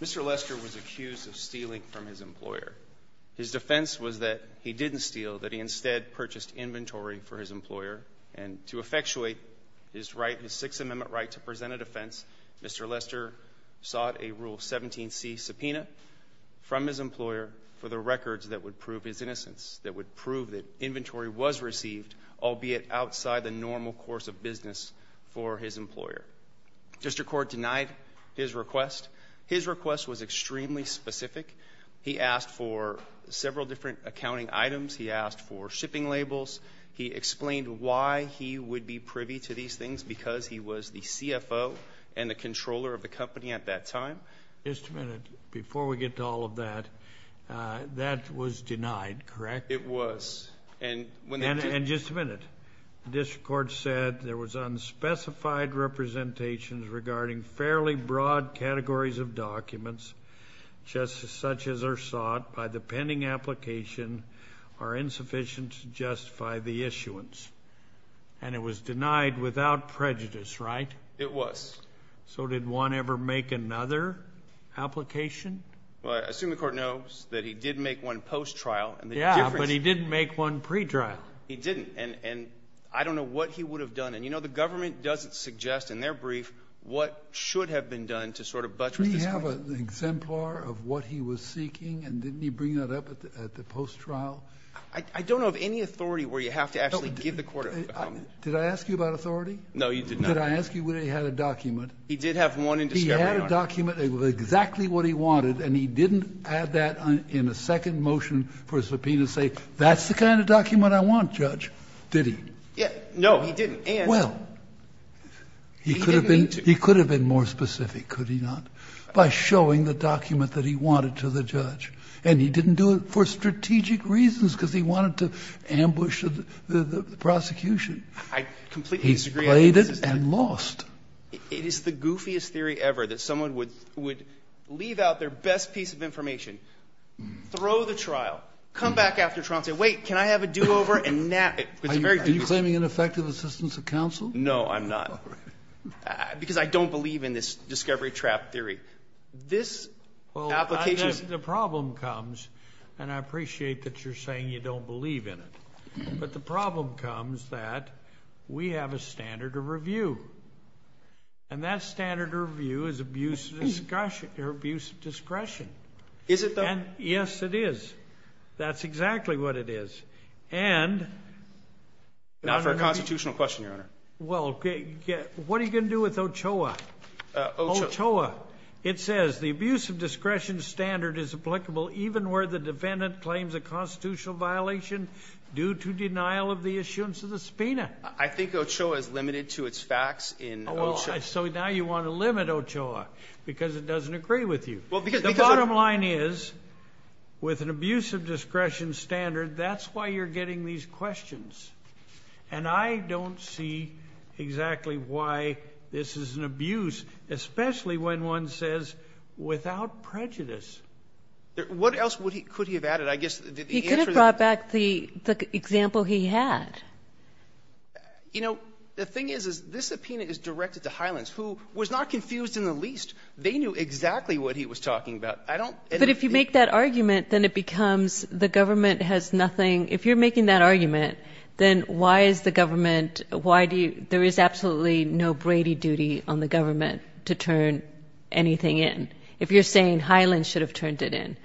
Mr. Lester was accused of stealing from his employer. His defense was that he didn't steal, that he instead purchased inventory for his employer and to effectuate his right, his Sixth Amendment right to present a defense, Mr. Lester sought a Rule 17c subpoena from his employer for the records that would prove his innocence, that would prove that inventory was received, albeit outside the normal course of business for his employer. District Court denied his request. His request was extremely specific. He asked for several different accounting items, he asked for shipping labels, he explained why he would be privy to these things because he was the CFO and the controller of the company at that time. Just a minute, before we get to all of that, that was denied, correct? It was. And just a minute, District Court said there was unspecified representations regarding fairly broad categories of documents, just as such as are sought by the pending application are insufficient to justify the issuance. And it was denied without prejudice, right? It was. So did one ever make another application? Well, I assume the Court knows that he did make one post-trial and the difference is he didn't make one pre-trial. He didn't. And I don't know what he would have done. And, you know, the government doesn't suggest in their brief what should have been done to sort of buttress this case. Did he have an exemplar of what he was seeking, and didn't he bring that up at the post-trial? I don't know of any authority where you have to actually give the Court a comment. Did I ask you about authority? No, you did not. Could I ask you whether he had a document? He did have one in discovery. He had a document of exactly what he wanted, and he didn't add that in a second motion for a subpoena and say, that's the kind of document I want, Judge. Did he? No, he didn't. Well, he could have been more specific, could he not, by showing the document that he wanted to the judge. And he didn't do it for strategic reasons, because he wanted to ambush the prosecution. I completely disagree. He's played it and lost. It is the goofiest theory ever that someone would leave out their best piece of information, throw the trial, come back after trial and say, wait, can I have a do-over and nap? Are you claiming ineffective assistance of counsel? No, I'm not. Because I don't believe in this discovery trap theory. This application The problem comes, and I appreciate that you're saying you don't believe in it, but the problem comes that we have a standard of review. And that standard of review is abuse of discretion. Is it, though? Yes, it is. That's exactly what it is. Not for a constitutional question, Your Honor. Well, what are you going to do with Ochoa? Ochoa. Ochoa. It says the abuse of discretion standard is applicable even where the I think Ochoa is limited to its facts in Ochoa. So now you want to limit Ochoa, because it doesn't agree with you. The bottom line is, with an abuse of discretion standard, that's why you're getting these questions. And I don't see exactly why this is an abuse, especially when one says without prejudice. What else could he have added? I guess the answer is the same. You know, the thing is, this opinion is directed to Hylands, who was not confused in the least. They knew exactly what he was talking about. But if you make that argument, then it becomes the government has nothing. If you're making that argument, then why is the government, why do you, there is absolutely no Brady duty on the government to turn anything in. If you're saying Hylands should have turned it in.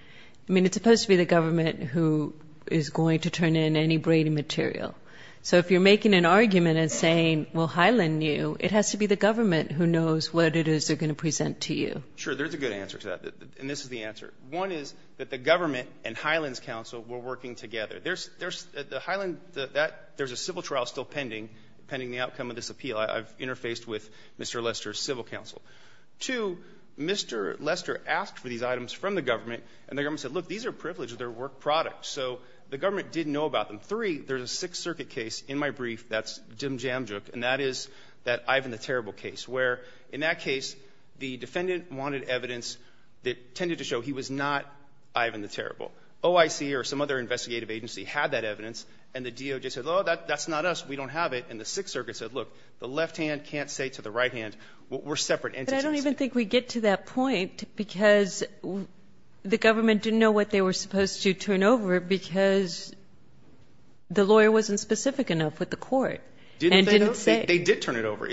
I mean, it's supposed to be the government who is going to turn in any Brady material. So if you're making an argument and saying, well, Hyland knew, it has to be the government who knows what it is they're going to present to you. Sure. There's a good answer to that. And this is the answer. One is that the government and Hylands counsel were working together. There's a civil trial still pending, pending the outcome of this appeal. I've interfaced with Mr. Lester's civil counsel. Two, Mr. Lester asked for these items from the government, and the government said, look, these are privileged. They're work products. So the government didn't know about them. Three, there's a Sixth Circuit case in my brief that's Jim Jamjook, and that is that Ivan the Terrible case, where in that case, the defendant wanted evidence that tended to show he was not Ivan the Terrible. OIC or some other investigative agency had that evidence, and the DOJ said, oh, that's not us. We don't have it. And the Sixth Circuit said, look, the left hand can't say to the right hand, we're separate entities. And I don't even think we get to that point, because the government didn't know what they were supposed to turn over, because the lawyer wasn't specific enough with the court. Didn't they know? And didn't say. They did turn it over.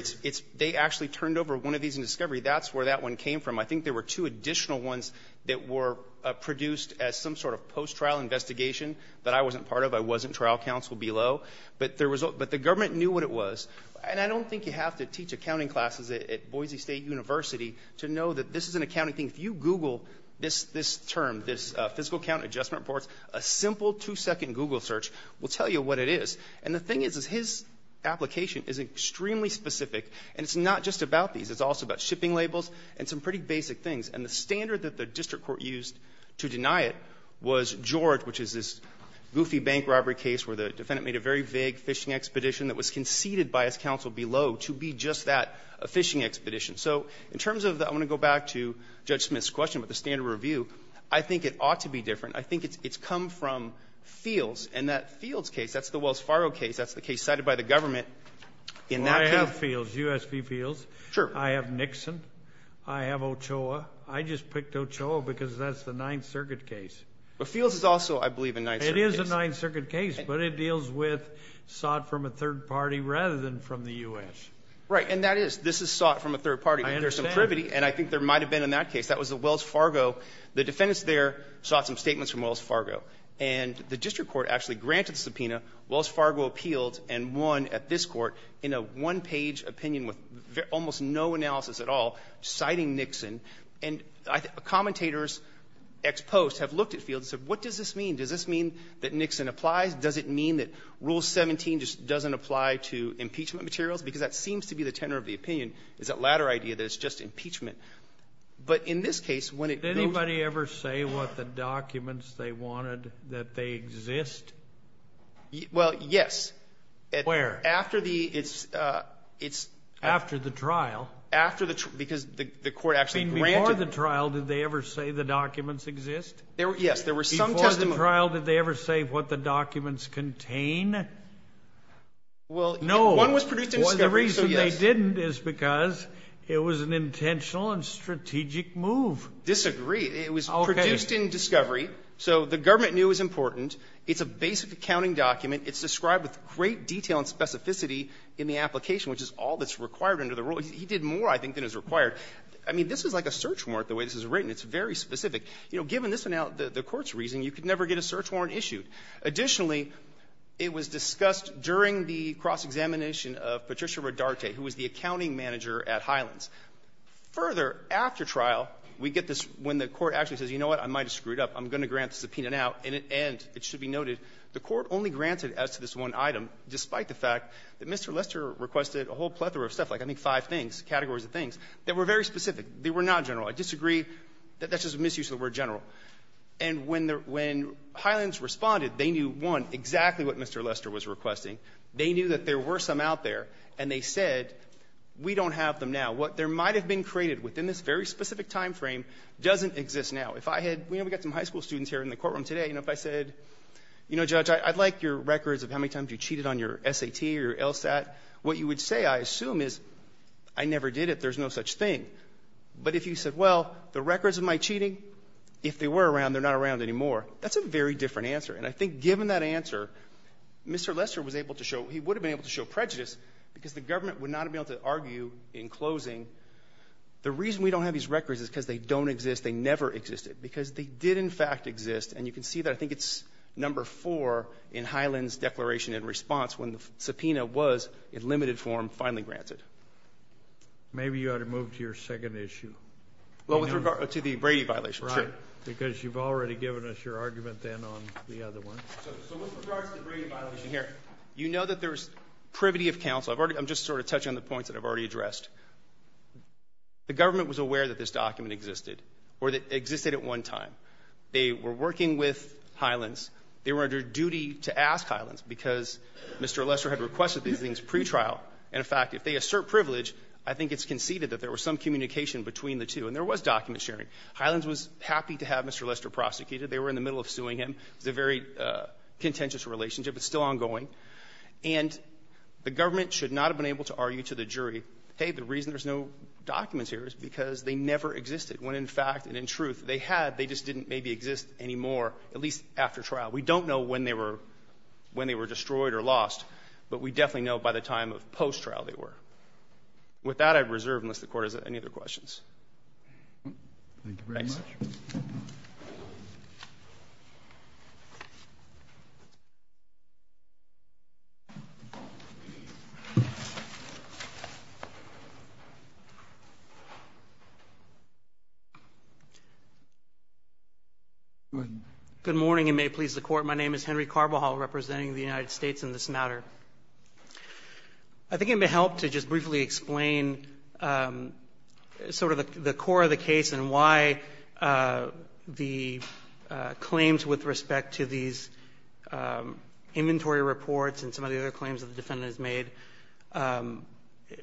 They actually turned over one of these in discovery. That's where that one came from. I think there were two additional ones that were produced as some sort of post-trial investigation that I wasn't part of. I wasn't trial counsel below. But the government knew what it was. And I don't think you have to teach accounting classes at Boise State University to know that this is an accounting thing. If you Google this term, this physical account adjustment reports, a simple two-second Google search will tell you what it is. And the thing is, is his application is extremely specific, and it's not just about these. It's also about shipping labels and some pretty basic things. And the standard that the district court used to deny it was George, which is this goofy bank robbery case where the defendant made a very vague phishing expedition that was conceded by his counsel below to be just that, a phishing expedition. So in terms of the – I want to go back to Judge Smith's question about the standard review. I think it ought to be different. I think it's come from Fields. And that Fields case, that's the Wells Fargo case. That's the case cited by the government in that case. Well, I have Fields, USP Fields. Sure. I have Nixon. I have Ochoa. I just picked Ochoa because that's the Ninth Circuit case. But Fields is also, I believe, a Ninth Circuit case. It is a Ninth Circuit case. But it deals with sought from a third party rather than from the U.S. Right. And that is, this is sought from a third party. I understand. But there's some privity, and I think there might have been in that case. That was the Wells Fargo. The defendants there sought some statements from Wells Fargo. And the district court actually granted the subpoena. Wells Fargo appealed and won at this court in a one-page opinion with almost no analysis at all, citing Nixon. And commentators ex post have looked at Fields and said, what does this mean? Does this mean that Nixon applies? Does it mean that Rule 17 just doesn't apply to impeachment materials? Because that seems to be the tenor of the opinion, is that latter idea that it's just impeachment. But in this case, when it goes to the court. Did anybody ever say what the documents they wanted, that they exist? Well, yes. Where? After the, it's, it's. After the trial. After the trial. Because the court actually granted them. Before the trial, did they ever say the documents exist? Yes. There were some testimony. After the trial, did they ever say what the documents contain? Well, no. One was produced in discovery. The reason they didn't is because it was an intentional and strategic move. Disagree. It was produced in discovery. So the government knew it was important. It's a basic accounting document. It's described with great detail and specificity in the application, which is all that's required under the rule. He did more, I think, than is required. I mean, this is like a search warrant, the way this is written. It's very specific. You know, given this one out, the court's reason, you could never get a search warrant issued. Additionally, it was discussed during the cross-examination of Patricia Rodarte, who was the accounting manager at Highlands. Further, after trial, we get this when the court actually says, you know what, I might have screwed up. I'm going to grant the subpoena now. In the end, it should be noted, the court only granted as to this one item, despite the fact that Mr. Lester requested a whole plethora of stuff, like I think five things, categories of things, that were very specific. They were not general. I disagree. That's just a misuse of the word general. And when Highlands responded, they knew, one, exactly what Mr. Lester was requesting. They knew that there were some out there, and they said, we don't have them now. What there might have been created within this very specific time frame doesn't exist now. If I had, you know, we've got some high school students here in the courtroom today, and if I said, you know, Judge, I'd like your records of how many times you cheated on your SAT or your LSAT, what you would say, I assume, is I never did it. There's no such thing. But if you said, well, the records of my cheating, if they were around, they're not around anymore, that's a very different answer. And I think given that answer, Mr. Lester was able to show, he would have been able to show prejudice, because the government would not have been able to argue in closing, the reason we don't have these records is because they don't exist. They never existed. Because they did, in fact, exist. And you can see that. I think it's number four in Highlands' declaration in response when the subpoena was, in limited form, finally granted. Maybe you ought to move to your second issue. Well, with regard to the Brady violation, sure. Right. Because you've already given us your argument then on the other one. So with regards to the Brady violation here, you know that there's privity of counsel. I'm just sort of touching on the points that I've already addressed. The government was aware that this document existed, or that it existed at one time. They were working with Highlands. They were under duty to ask Highlands, because Mr. Lester had requested these things pre-trial. And, in fact, if they assert privilege, I think it's conceded that there was some communication between the two. And there was document sharing. Highlands was happy to have Mr. Lester prosecuted. They were in the middle of suing him. It was a very contentious relationship. It's still ongoing. And the government should not have been able to argue to the jury, hey, the reason there's no documents here is because they never existed, when, in fact, and in truth, they had. They just didn't maybe exist anymore, at least after trial. We don't know when they were destroyed or lost. But we definitely know by the time of post-trial they were. With that, I'd reserve unless the Court has any other questions. Thank you very much. Thanks. My name is Henry Carbajal representing the United States in this matter. I think it may help to just briefly explain sort of the core of the case and why the claims with respect to these inventory reports and some of the other claims that the defendant has made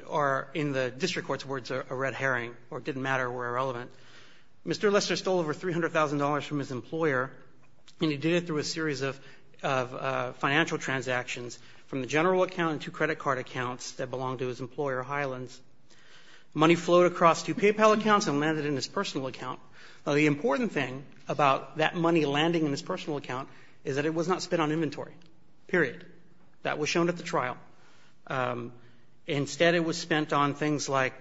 are in the district court's words a red herring or didn't matter or irrelevant. Mr. Lester stole over $300,000 from his employer, and he did it through a series of financial transactions from the general account to credit card accounts that belonged to his employer, Highlands. Money flowed across two PayPal accounts and landed in his personal account. Now, the important thing about that money landing in his personal account is that it was not spent on inventory, period. That was shown at the trial. Instead, it was spent on things like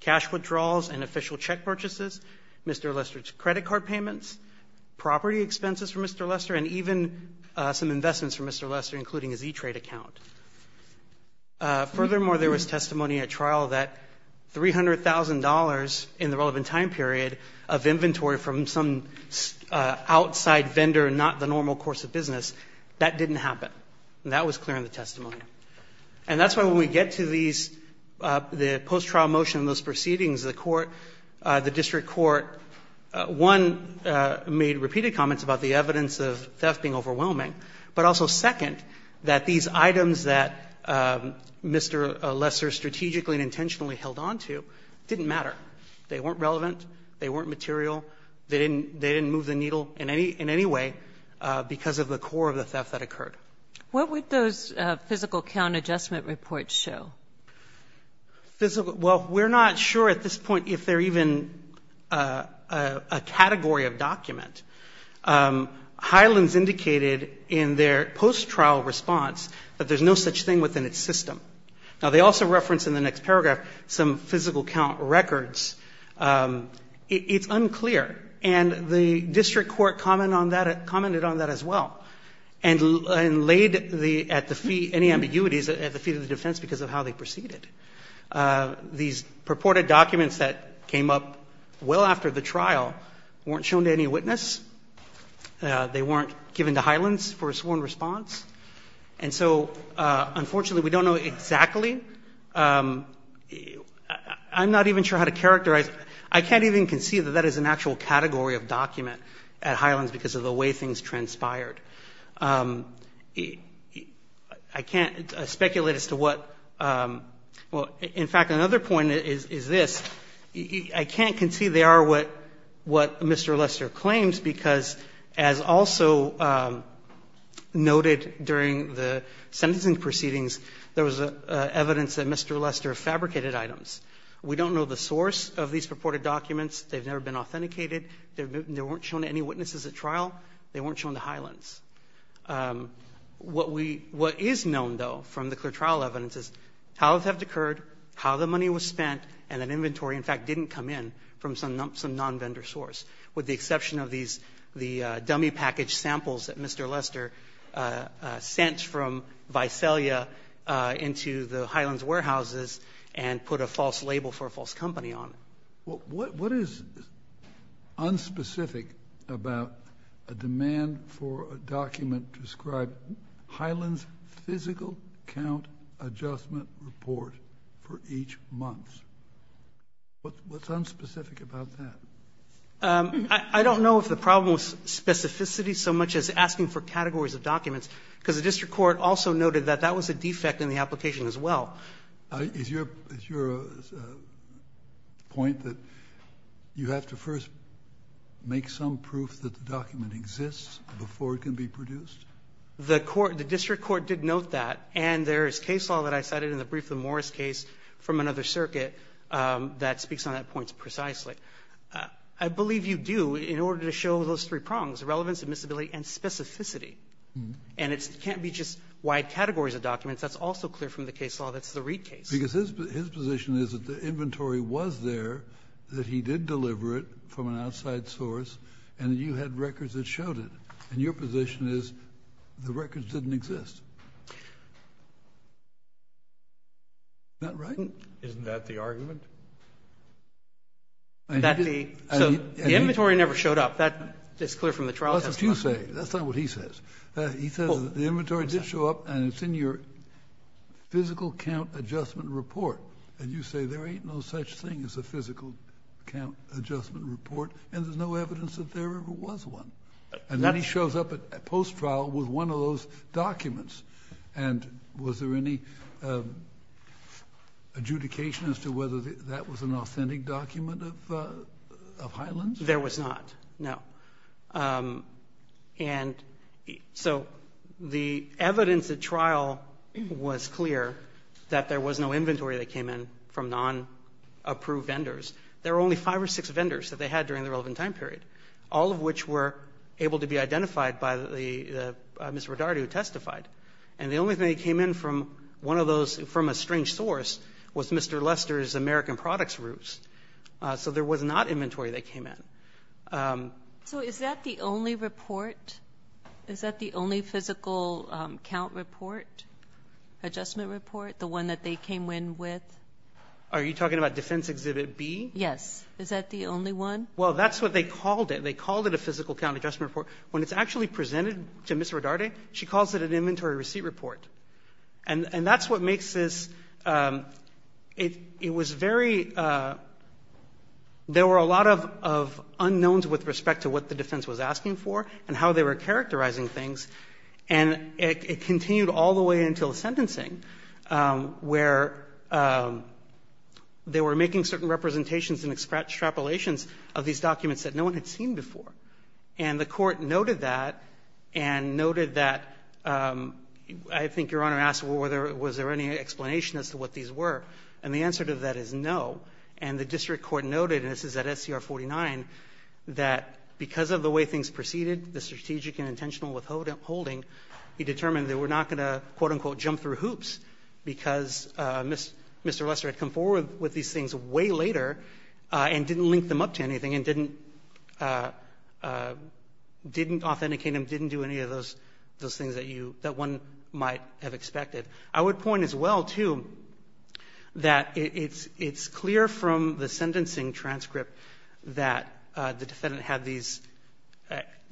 cash withdrawals and official check purchases, Mr. Lester's credit card payments, property expenses for Mr. Lester, and even some investments for Mr. Lester, including his E-Trade account. Furthermore, there was testimony at trial that $300,000 in the relevant time period of inventory from some outside vendor, not the normal course of business, that didn't happen, and that was clear in the testimony. And that's why when we get to these, the post-trial motion and those proceedings, the court, the district court, one, made repeated comments about the evidence of theft being overwhelming, but also, second, that these items that Mr. Lester strategically and intentionally held on to didn't matter. They weren't relevant. They weren't material. They didn't move the needle in any way because of the core of the theft that occurred. What would those physical count adjustment reports show? Well, we're not sure at this point if they're even a category of document. Hyland's indicated in their post-trial response that there's no such thing within its system. Now, they also reference in the next paragraph some physical count records. It's unclear. And the district court commented on that as well. And laid the, at the fee, any ambiguities at the fee of the defense because of how they proceeded. These purported documents that came up well after the trial weren't shown to any witness. They weren't given to Hyland's for a sworn response. And so, unfortunately, we don't know exactly. I'm not even sure how to characterize. I can't even conceive that that is an actual category of document at Hyland's because of the way things transpired. I can't speculate as to what, well, in fact, another point is this. I can't conceive they are what Mr. Lester claims because, as also noted during the sentencing proceedings, there was evidence that Mr. Lester fabricated items. We don't know the source of these purported documents. They've never been authenticated. They weren't shown to any witnesses at trial. They weren't shown to Hyland's. What we, what is known, though, from the clear trial evidence is how it occurred, how the money was spent, and that inventory, in fact, didn't come in from some non-vendor source, with the exception of these, the dummy package samples that Mr. Lester sent from Visalia into the Hyland's warehouses and put a false label for a false company on it. Well, what is unspecific about a demand for a document to describe Hyland's physical count adjustment report for each month? What's unspecific about that? I don't know if the problem was specificity so much as asking for categories of documents, because the district court also noted that that was a defect in the application as well. Now, is your, is your point that you have to first make some proof that the document exists before it can be produced? The court, the district court did note that. And there is case law that I cited in the brief of the Morris case from another circuit that speaks on that point precisely. I believe you do in order to show those three prongs, relevance, admissibility, and specificity. And it can't be just wide categories of documents. That's also clear from the case law. That's the Reed case. Because his, his position is that the inventory was there, that he did deliver it from an outside source, and you had records that showed it. And your position is the records didn't exist. Isn't that right? Isn't that the argument? That the, so the inventory never showed up. That is clear from the trial testimony. That's what you say. That's not what he says. He says that the inventory did show up and it's in your physical count adjustment report. And you say there ain't no such thing as a physical count adjustment report and there's no evidence that there ever was one. And then he shows up at post-trial with one of those documents. And was there any adjudication as to whether that was an authentic document of Highlands? There was not, no. And so the evidence at trial was clear that there was no inventory that came in from non-approved vendors. There were only five or six vendors that they had during the relevant time period, all of which were able to be identified by the Mr. Rodarte who testified. And the only thing that came in from one of those, from a strange source, was Mr. Lester's American Products Roots. So there was not inventory that came in. So is that the only report? Is that the only physical count report, adjustment report, the one that they came in with? Are you talking about Defense Exhibit B? Yes. Is that the only one? Well, that's what they called it. They called it a physical count adjustment report. When it's actually presented to Ms. Rodarte, she calls it an inventory receipt report. And that's what makes this, it was very, there were a lot of unknowns with respect to what the defense was asking for and how they were characterizing things. And it continued all the way until the sentencing where they were making certain representations and extrapolations of these documents that no one had seen before. And the Court noted that and noted that, I think Your Honor asked, well, was there any explanation as to what these were? And the answer to that is no. And the district court noted, and this is at SCR 49, that because of the way things proceeded, the strategic and intentional withholding, he determined that we're not going to, quote, unquote, jump through hoops because Mr. Lester had come forward with these things way later and didn't link them up to anything and didn't, didn't authenticate them, didn't do any of those things that you, that one might have expected. I would point as well, too, that it's clear from the sentencing transcript that the defendant had these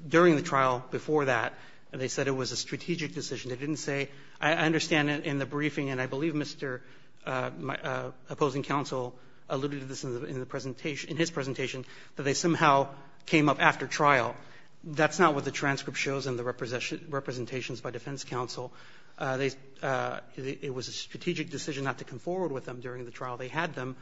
during the trial, before that, and they said it was a strategic decision. They didn't say, I understand in the briefing, and I believe Mr. my, opposing counsel alluded to this in the presentation, in his presentation, that they somehow came up after trial. That's not what the transcript shows in the representations by defense counsel. They, it was a strategic decision not to come forward with them during the trial. They had them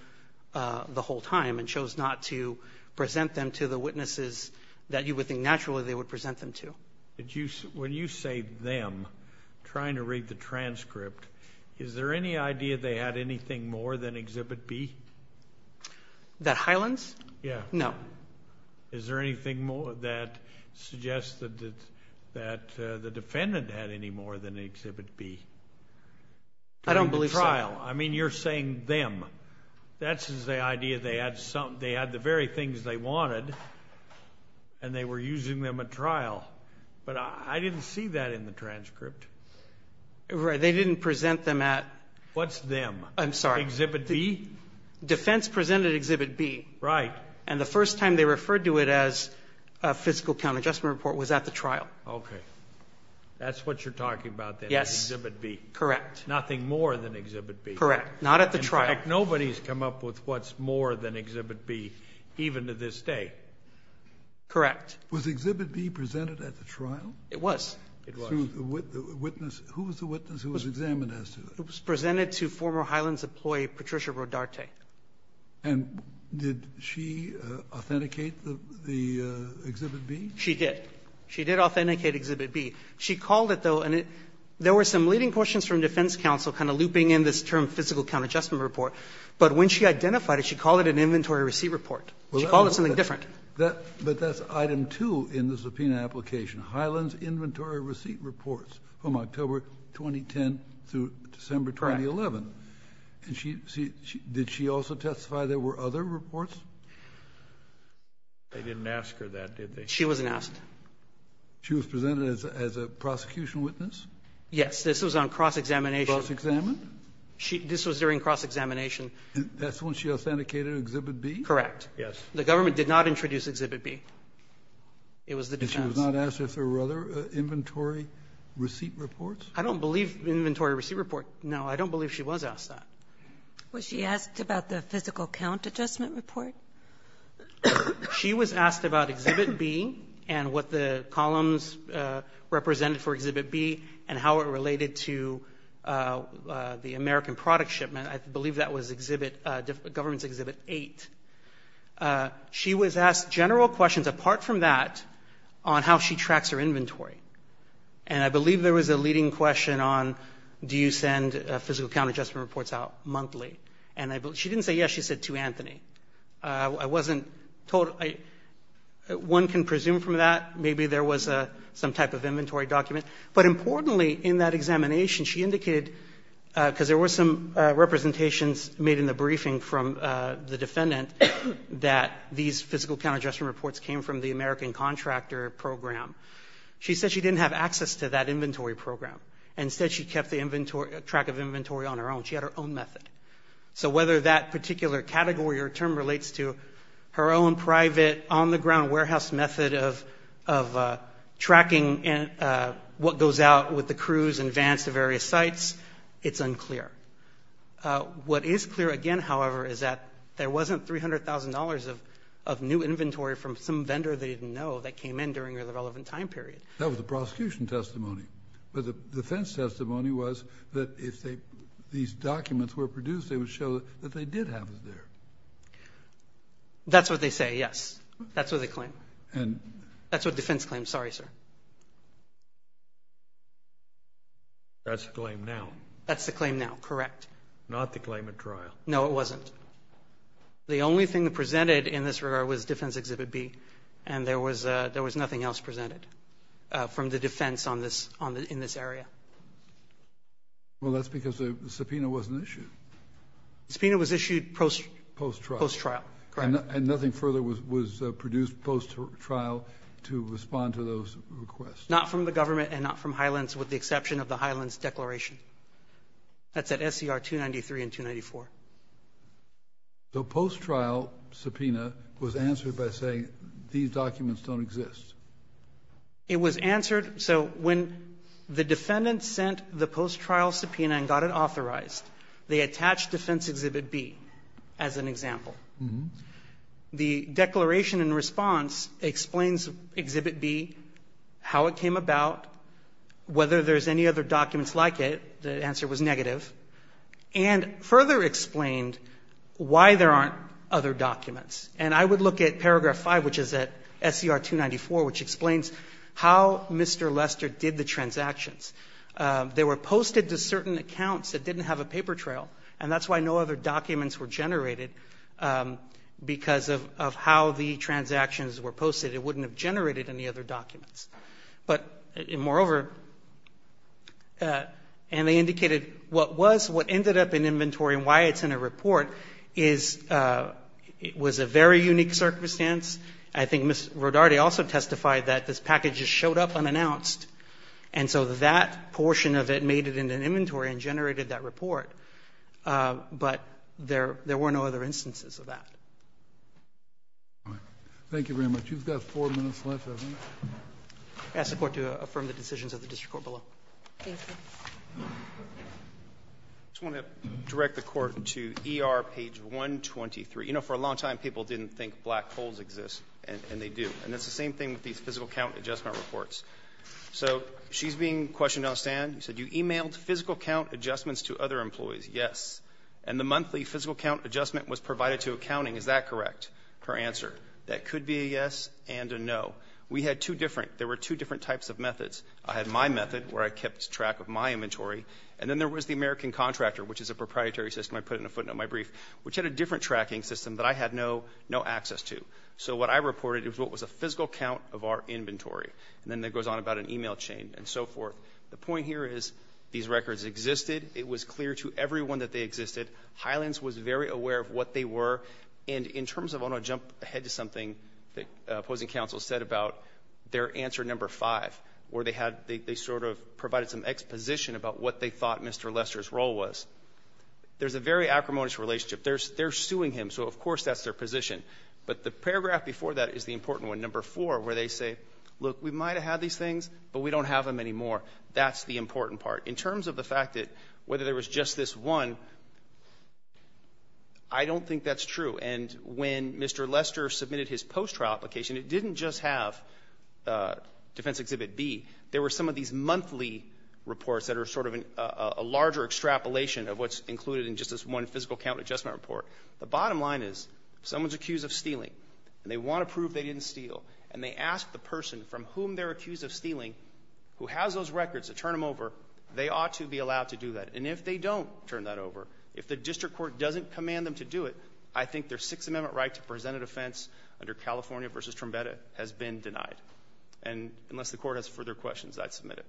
the whole time and chose not to present them to the witnesses that you would think naturally they would present them to. When you say them, trying to read the transcript, is there any idea they had anything more than Exhibit B? That Hyland's? Yeah. No. Is there anything more that suggests that, that the defendant had any more than Exhibit B? I don't believe so. During the trial. I mean, you're saying them. That's the idea. They had some, they had the very things they wanted and they were using them in the trial, but I didn't see that in the transcript. They didn't present them at. What's them? I'm sorry. Exhibit B? Defense presented Exhibit B. Right. And the first time they referred to it as a physical count adjustment report was at the trial. Okay. That's what you're talking about then. Yes. Exhibit B. Correct. Nothing more than Exhibit B. Correct. Not at the trial. In fact, nobody's come up with what's more than Exhibit B, even to this day. Correct. Was Exhibit B presented at the trial? It was. It was. Who was the witness who was examined as to it? It was presented to former Highlands employee Patricia Rodarte. And did she authenticate the Exhibit B? She did. She did authenticate Exhibit B. She called it, though, and there were some leading questions from defense counsel kind of looping in this term, physical count adjustment report, but when she identified it, she called it an inventory receipt report. She called it something different. But that's Item 2 in the subpoena application, Highlands Inventory Receipt Reports from October 2010 through December 2011. Correct. And did she also testify there were other reports? They didn't ask her that, did they? She wasn't asked. She was presented as a prosecution witness? Yes. This was on cross-examination. Cross-examined? This was during cross-examination. That's when she authenticated Exhibit B? Correct. Yes. The government did not introduce Exhibit B. It was the defense. And she was not asked if there were other inventory receipt reports? I don't believe inventory receipt report. No, I don't believe she was asked that. Was she asked about the physical count adjustment report? She was asked about Exhibit B and what the columns represented for Exhibit B and how it related to the American product shipment. I believe that was Exhibit, government's Exhibit 8. She was asked general questions apart from that on how she tracks her inventory. And I believe there was a leading question on, do you send physical count adjustment reports out monthly? And she didn't say yes. She said to Anthony. I wasn't told, one can presume from that, maybe there was some type of inventory document. But importantly, in that examination, she indicated, because there were some representations made in the briefing from the defendant, that these physical count adjustment reports came from the American contractor program. She said she didn't have access to that inventory program. Instead, she kept the inventory, track of inventory on her own. She had her own method. So whether that particular category or term relates to her own private, on-the-ground warehouse method of tracking what goes out with the crews and vans to various sites, it's unclear. What is clear, again, however, is that there wasn't $300,000 of new inventory from some vendor they didn't know that came in during the relevant time period. That was the prosecution testimony. But the defense testimony was that if these documents were produced, they would show that they did have it there. That's what they say, yes. That's what they claim. And that's what defense claims. Sorry, sir. That's the claim now. That's the claim now, correct. Not the claim at trial. No, it wasn't. The only thing presented in this regard was Defense Exhibit B, and there was nothing else presented from the defense on this area. Well, that's because the subpoena wasn't issued. The subpoena was issued post-trial. Post-trial, correct. And nothing further was produced post-trial to respond to those requests? Not from the government and not from Highlands, with the exception of the Highlands declaration. That's at SCR 293 and 294. The post-trial subpoena was answered by saying, these documents don't exist. It was answered. So when the defendant sent the post-trial subpoena and got it authorized, they attached Defense Exhibit B as an example. The declaration in response explains Exhibit B, how it came about, whether there's any other documents like it. The answer was negative. And further explained why there aren't other documents. And I would look at paragraph 5, which is at SCR 294, which explains how Mr. Lester did the transactions. They were posted to certain accounts that didn't have a paper trail. And that's why no other documents were generated because of how the transactions were posted. It wouldn't have generated any other documents. But moreover, and they indicated what was, what ended up in inventory and why it's in a report is, it was a very unique circumstance. I think Ms. Rodarte also testified that this package just showed up unannounced. And so that portion of it made it into an inventory and generated that report. But there were no other instances of that. Thank you very much. You've got four minutes left, haven't you? I ask the Court to affirm the decisions of the district court below. Thank you. I just want to direct the Court to ER page 123. You know, for a long time, people didn't think black holes exist, and they do. And it's the same thing with these physical count adjustment reports. So she's being questioned on a stand. She said, you emailed physical count adjustments to other employees. Yes. And the monthly physical count adjustment was provided to accounting. Is that correct, her answer? That could be a yes and a no. We had two different, there were two different types of methods. I had my method, where I kept track of my inventory. And then there was the American Contractor, which is a proprietary system. I put it in a footnote in my brief, which had a different tracking system that I had no access to. So what I reported is what was a physical count of our inventory. And then that goes on about an email chain and so forth. The point here is, these records existed. It was clear to everyone that they existed. Highlands was very aware of what they were. And in terms of, I want to jump ahead to something that opposing counsel said about their answer number five, where they had, they sort of provided some exposition about what they thought Mr. Lester's role was. There's a very acrimonious relationship. They're suing him, so of course that's their position. But the paragraph before that is the important one, number four, where they say, look, we might have had these things, but we don't have them anymore. That's the important part. In terms of the fact that whether there was just this one, I don't think that's true. And when Mr. Lester submitted his post-trial application, it didn't just have Defense Exhibit B. There were some of these monthly reports that are sort of a larger extrapolation of what's included in just this one physical count adjustment report. The bottom line is, if someone's accused of stealing, and they want to prove they didn't steal, and they ask the person from whom they're accused of stealing, who has those records to turn them over, they ought to be allowed to do that. And if they don't turn that over, if the district court doesn't command them to do it, I think their Sixth Amendment right to present an offense under California v. Trumbetta has been denied. And unless the Court has further questions, I'd submit it.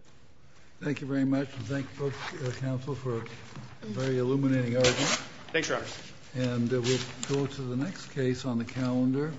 Thank you very much. And thank both counsel for a very illuminating argument. Thanks, Your Honor. And we'll go to the next case on the calendar.